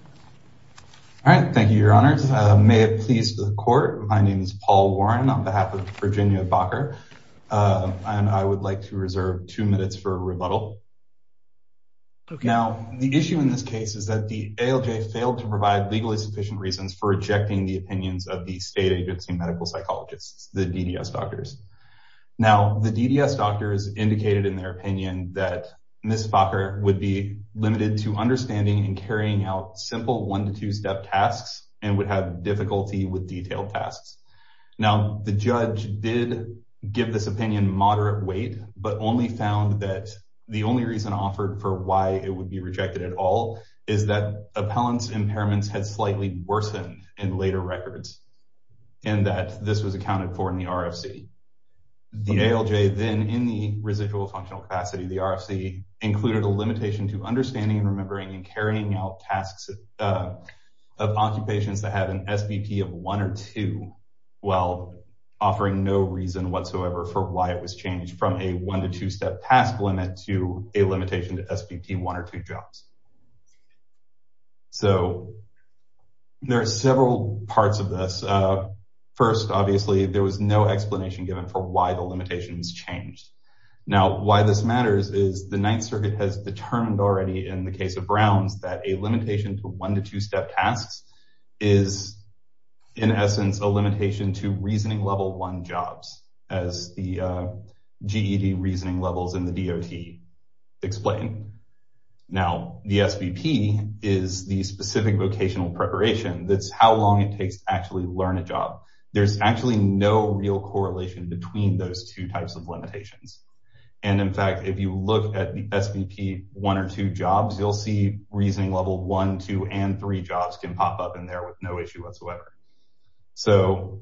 All right, thank you, your honors. May it please the court, my name is Paul Warren on behalf of Virginia Bakker, and I would like to reserve two minutes for a rebuttal. Okay. Now, the issue in this case is that the ALJ failed to provide legally sufficient reasons for rejecting the opinions of the state agency medical psychologists, the DDS doctors. Now, the DDS doctors indicated in their opinion that Ms. Bakker would be limited to understanding and carrying out simple one to two step tasks and would have difficulty with detailed tasks. Now, the judge did give this opinion moderate weight, but only found that the only reason offered for why it would be rejected at all is that appellant's impairments had slightly worsened in later records, and that this was accounted for in the RFC. The ALJ then in the residual functional capacity, the RFC included a limitation to understanding and remembering and carrying out tasks of occupations that have an SBP of one or two, while offering no reason whatsoever for why it was changed from a one to two step task limit to a limitation to SBP one or two jobs. So there are several parts of this. First, obviously there was no explanation given for why the limitations changed. Now, why this matters is the Ninth Circuit has determined already in the case of Brown's that a limitation to one to two step tasks is in essence a limitation to reasoning level one jobs as the GED reasoning levels in the DOT explain. Now, the SBP is the specific vocational preparation that's how long it takes to actually learn a job. There's actually no real correlation between those two types of limitations. And in fact, if you look at the SBP one or two jobs, you'll see reasoning level one, two and three jobs can pop up in there with no issue whatsoever. So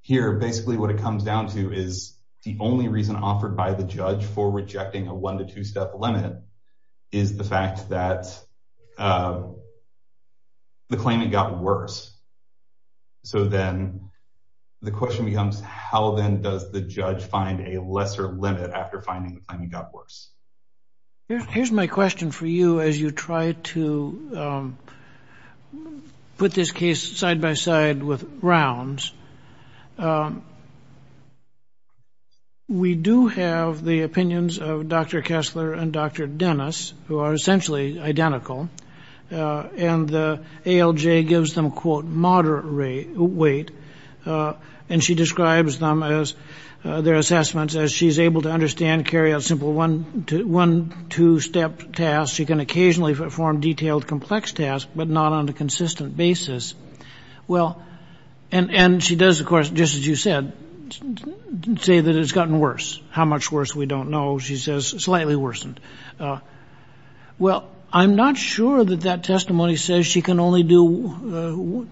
here, basically what it comes down to is the only reason offered by the judge for rejecting a one to two step limit is the fact that the claiming got worse. So then the question becomes how then does the judge find a lesser limit after finding the claiming got worse? Here's my question for you as you try to put this case side by side with Brown's. We do have the opinions of Dr. Kessler and Dr. Dennis who are essentially identical and the ALJ gives them quote moderate weight and she describes them as their assessments as she's able to understand carry out simple one to step tasks. She can occasionally perform detailed complex tasks but not on a consistent basis. Well, and she does of course, just as you said, say that it's gotten worse. How much worse we don't know she says slightly worsened. Well, I'm not sure that that testimony says she can only do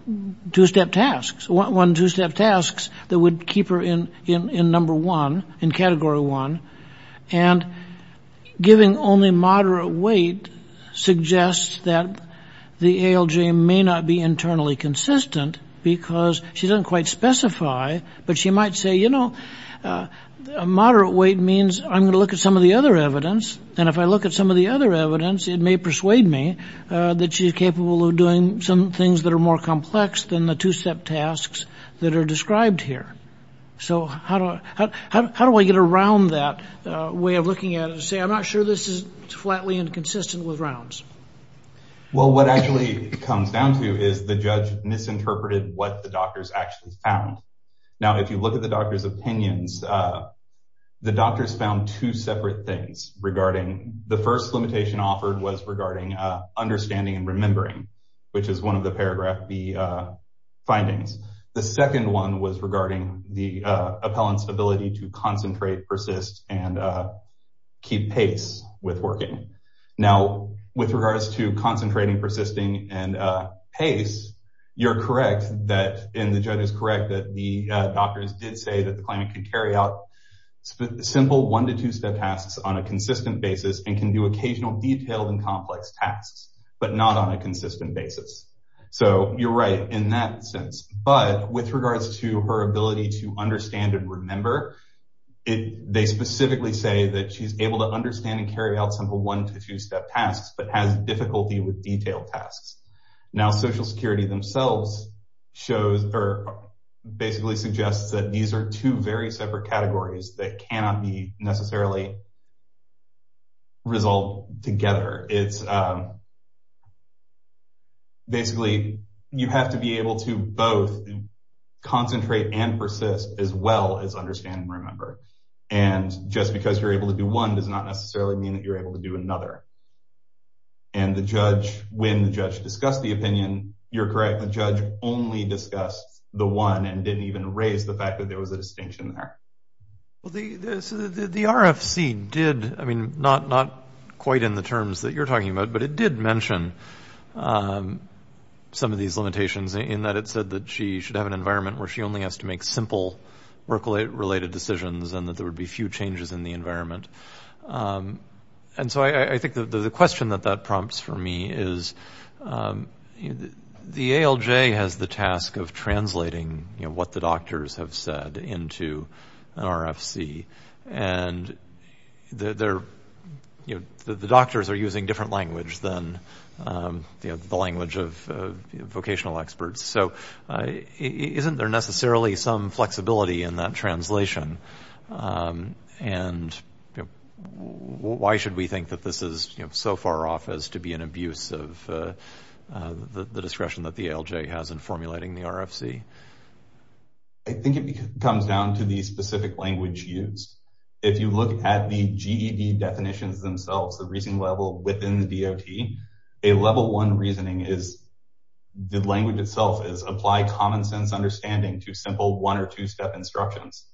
two step tasks. One to step tasks that would keep her in number one, in category one and giving only moderate weight suggests that the ALJ may not be internally consistent because she doesn't quite specify, but she might say, you know, moderate weight means I'm gonna look at some of the other evidence. And if I look at some of the other evidence, it may persuade me that she's capable of doing some things that are more complex than the two step tasks that are described here. So how do I get around that way of looking at it and say, I'm not sure this is flatly and consistent with rounds? Well, what actually comes down to is the judge misinterpreted what the doctors actually found. Now, if you look at the doctor's opinions, the doctors found two separate things regarding the first limitation offered was regarding understanding and remembering, which is one of the paragraph B findings. The second one was regarding the appellant's ability to concentrate, persist and keep pace with working. Now, with regards to concentrating, persisting and pace, you're correct that, and the judge is correct that the doctors did say that the client could carry out simple one to two step tasks on a consistent basis and can do occasional detailed and complex tasks, but not on a consistent basis. So you're right in that sense, but with regards to her ability to understand and remember, they specifically say that she's able to understand and carry out simple one to two step tasks, but has difficulty with detailed tasks. Now, social security themselves shows or basically suggests that these are two very separate categories that cannot be necessarily resolved together. Basically, you have to be able to both concentrate and persist as well as understand and remember. And just because you're able to do one does not necessarily mean that you're able to do another. And the judge, when the judge discussed the opinion, you're correct, the judge only discussed the one and didn't even raise the fact that there was a distinction there. Well, the RFC did, I mean, not quite in the terms that you're talking about, but it did mention some of these limitations in that it said that she should have an environment where she only has to make simple workload related decisions and that there would be few changes in the environment. And so I think the question that that prompts for me is the ALJ has the task of translating what the doctors have said into an RFC. And the doctors are using different language than the language of vocational experts. So isn't there necessarily some flexibility in that translation? And why should we think that this is so far off as to be an abuse of the discretion that the ALJ has in formulating the RFC? I think it comes down to the specific language used. If you look at the GED definitions themselves, the reasoning level within the DOT, a level one reasoning is the language itself is apply common sense understanding to simple one or two step instructions.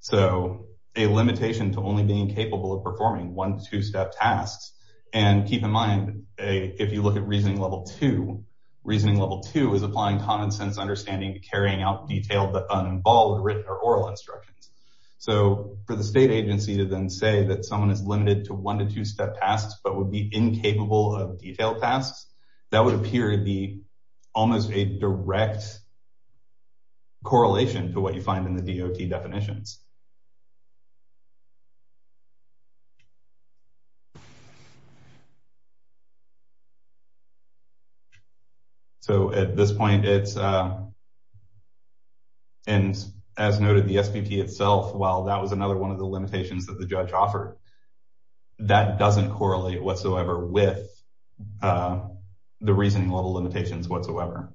So a limitation to only being capable of performing one, two step tasks. And keep in mind, if you look at reasoning level two, reasoning level two is applying common sense understanding to carrying out detailed but uninvolved written or oral instructions. So for the state agency to then say that someone is limited to one to two step tasks, but would be incapable of detailed tasks, that would appear to be almost a direct correlation to what you find in the DOT definitions. So at this point, it's, and as noted the SBP itself, while that was another one of the limitations that the judge offered, that doesn't correlate whatsoever with the reasoning level limitations whatsoever.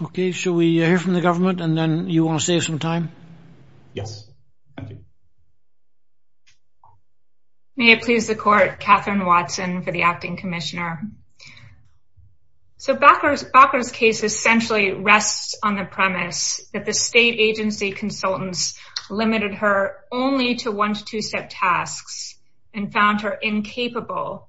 but why should we think that this is so far off in the government and then you want to save some time? Yes. May it please the court, Catherine Watson for the acting commissioner. So Bacher's case essentially rests on the premise that the state agency consultants limited her only to one to two step tasks and found her incapable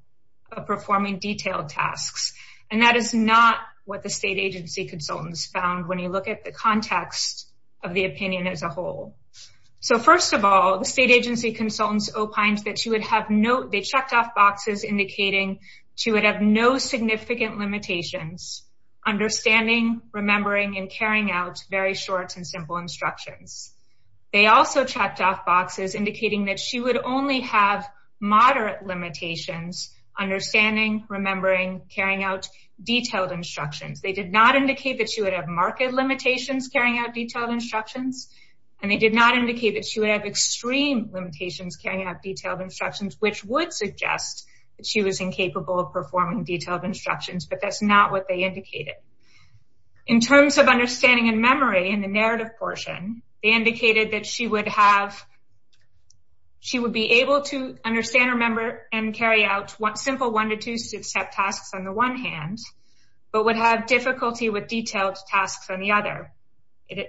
of performing detailed tasks. And that is not what the state agency consultants found when you look at the context of the opinion as a whole. So first of all, the state agency consultants opines that she would have no, they checked off boxes indicating she would have no significant limitations, understanding, remembering and carrying out very short and simple instructions. They also checked off boxes indicating that she would only have moderate limitations, understanding, remembering, carrying out detailed instructions. They did not indicate that she would have marked limitations carrying out detailed instructions. And they did not indicate that she would have extreme limitations carrying out detailed instructions, which would suggest that she was incapable of performing detailed instructions, but that's not what they indicated. In terms of understanding and memory in the narrative portion, they indicated that she would have, she would be able to understand, remember and carry out simple one to two step tasks on the one hand, but would have difficulty with detailed tasks on the other.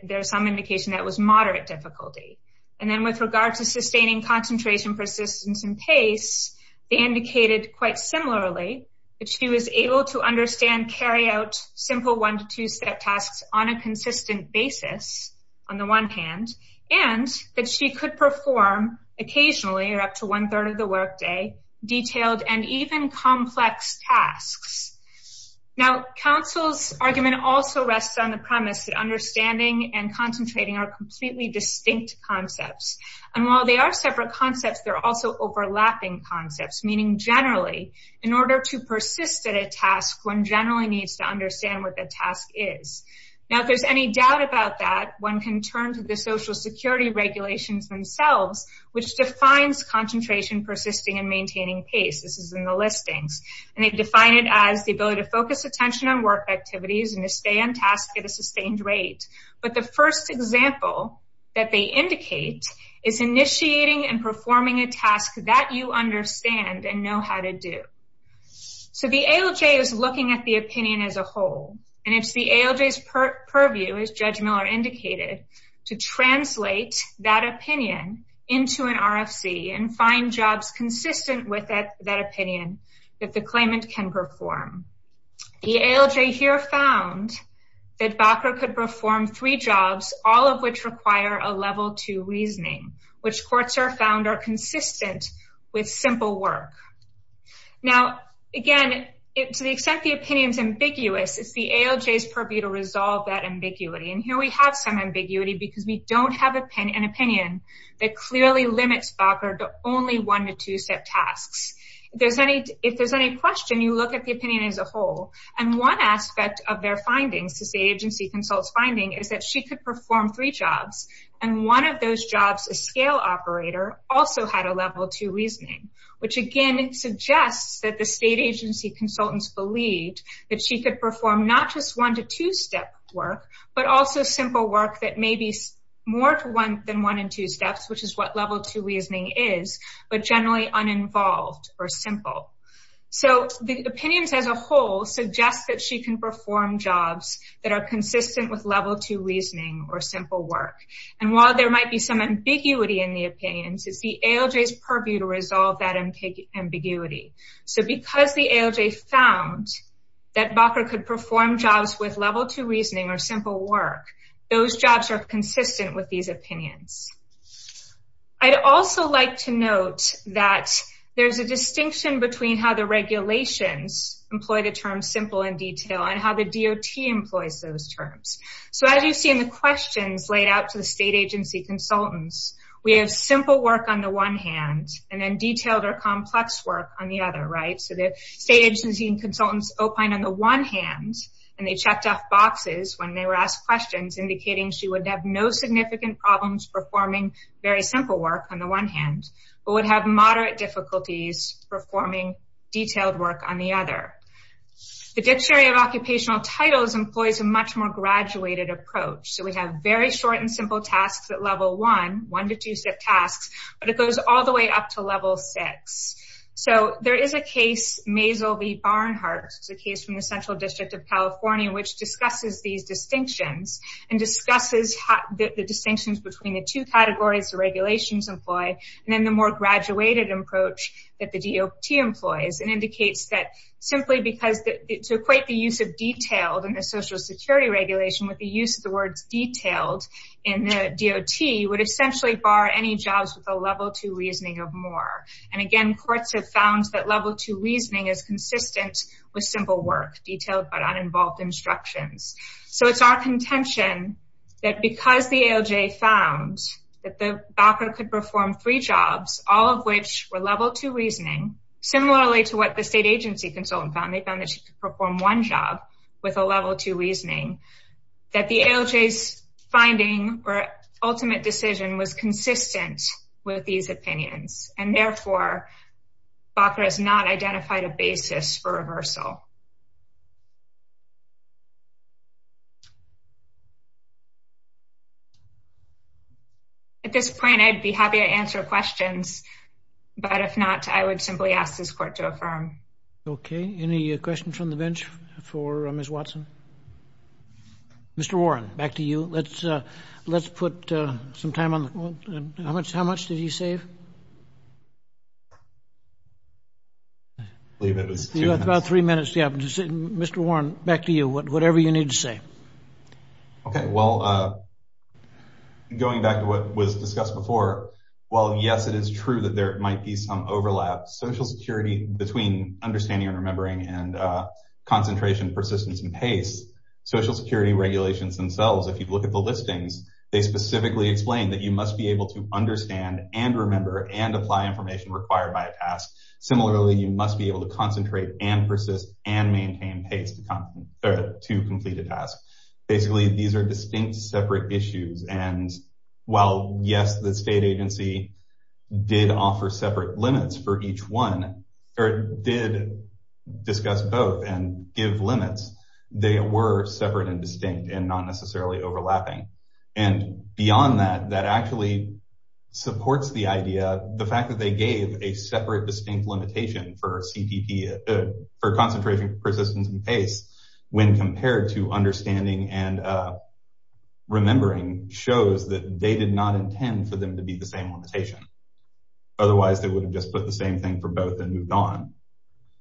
There's some indication that was moderate difficulty. And then with regard to sustaining concentration, persistence and pace, they indicated quite similarly, that she was able to understand carry out simple one to two step tasks on a consistent basis on the one hand, and that she could perform occasionally or up to one third of the workday detailed and even complex tasks. Now counsel's argument also rests on the premise that understanding and concentrating are completely distinct concepts. And while they are separate concepts, they're also overlapping concepts, meaning generally in order to persist at a task, one generally needs to understand what the task is. Now, if there's any doubt about that, one can turn to the social security regulations themselves, which defines concentration, persisting and maintaining pace. This is in the listings. And they've defined it as the ability to focus attention on work activities and to stay on task at a sustained rate. But the first example that they indicate is initiating and performing a task that you understand and know how to do. So the ALJ is looking at the opinion as a whole, and it's the ALJ's purview as Judge Miller indicated, to translate that opinion into an RFC and find jobs consistent with that opinion that the claimant can perform. The ALJ here found that Bakker could perform three jobs, all of which require a level two reasoning, which courts are found are consistent with simple work. Now, again, to the extent the opinion is ambiguous, it's the ALJ's purview to resolve that ambiguity. And here we have some ambiguity because we don't have an opinion that clearly limits Bakker to only one to two-step tasks. If there's any question, you look at the opinion as a whole. And one aspect of their findings, the state agency consultant's finding, is that she could perform three jobs. And one of those jobs, a scale operator, also had a level two reasoning, which again suggests that the state agency consultants believed that she could perform not just one to two-step work, but also simple work that may be more than one and two steps, which is what level two reasoning is, but generally uninvolved or simple. So the opinions as a whole suggest that she can perform jobs that are consistent with level two reasoning or simple work. And while there might be some ambiguity in the opinions, it's the ALJ's purview to resolve that ambiguity. So because the ALJ found that Bakker could perform jobs with level two reasoning or simple work, those jobs are consistent with these opinions. I'd also like to note that there's a distinction between how the regulations employ the term simple and detail and how the DOT employs those terms. So as you see in the questions laid out to the state agency consultants, we have simple work on the one hand and then detailed or complex work on the other, right? So the state agency and consultants opined on the one hand and they checked off boxes when they were asked questions indicating she would have no significant problems performing very simple work on the one hand, but would have moderate difficulties performing detailed work on the other. The Dictionary of Occupational Titles employs a much more graduated approach. So we have very short and simple tasks at level one, one to two-step tasks, but it goes all the way up to level six. So there is a case, Maisel v. Barnhart, it's a case from the Central District of California, which discusses these distinctions and discusses the distinctions between the two categories the regulations employ and then the more graduated approach that the DOT employs. And indicates that simply because to equate the use of detailed in the social security regulation with the use of the words detailed in the DOT would essentially bar any jobs with a level two reasoning of more. And again, courts have found that level two reasoning is consistent with simple work, detailed but uninvolved instructions. So it's our contention that because the ALJ found that the BOCR could perform three jobs, all of which were level two reasoning, similarly to what the state agency consultant found, they found that she could perform one job with a level two reasoning, that the ALJ's finding or ultimate decision was consistent with these opinions. And therefore, BOCR has not identified a basis for reversal. At this point, I'd be happy to answer questions, but if not, I would simply ask this court to affirm. Okay, any questions from the bench for Ms. Watson? Mr. Warren, back to you. Let's put some time on the, how much did he save? I believe it was two minutes. You have about three minutes, yeah. Mr. Warren, back to you, whatever you need to say. Okay, well, going back to what was discussed before, while yes, it is true that there might be some overlap, Social Security, between understanding and remembering and concentration, persistence, and pace, Social Security regulations themselves, if you look at the listings, they specifically explain that you must be able to understand and remember and apply information required by a task. Similarly, you must be able to concentrate and persist and maintain pace to complete a task. Basically, these are distinct separate issues. And while, yes, the state agency did offer separate limits for each one, or did discuss both and give limits, they were separate and distinct and not necessarily overlapping. And beyond that, that actually supports the idea, the fact that they gave a separate distinct limitation for concentration, persistence, and pace, when compared to understanding and remembering shows that they did not intend for them to be the same limitation. Otherwise, they would have just put the same thing for both and moved on.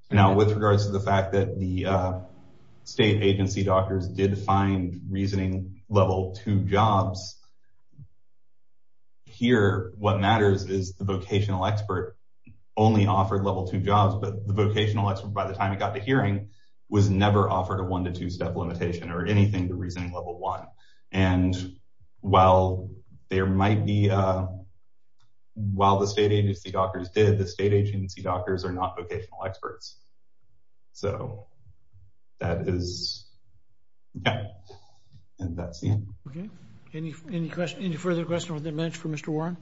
Now, with regards to the fact that the state agency doctors did find reasoning level two jobs, here, what matters is the vocational expert only offered level two jobs, but the vocational expert, by the time it got to hearing, was never offered a one to two step limitation or anything to reasoning level one. And while there might be, while the state agency doctors did, the state agency doctors are not vocational experts. So that is, yeah, and that's the end. Okay, any further questions or comments for Mr. Warren?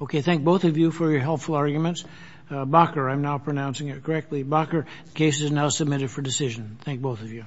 Okay, thank both of you for your helpful arguments. Bakker, I'm now pronouncing it correctly, Bakker, the case is now submitted for decision. Thank both of you.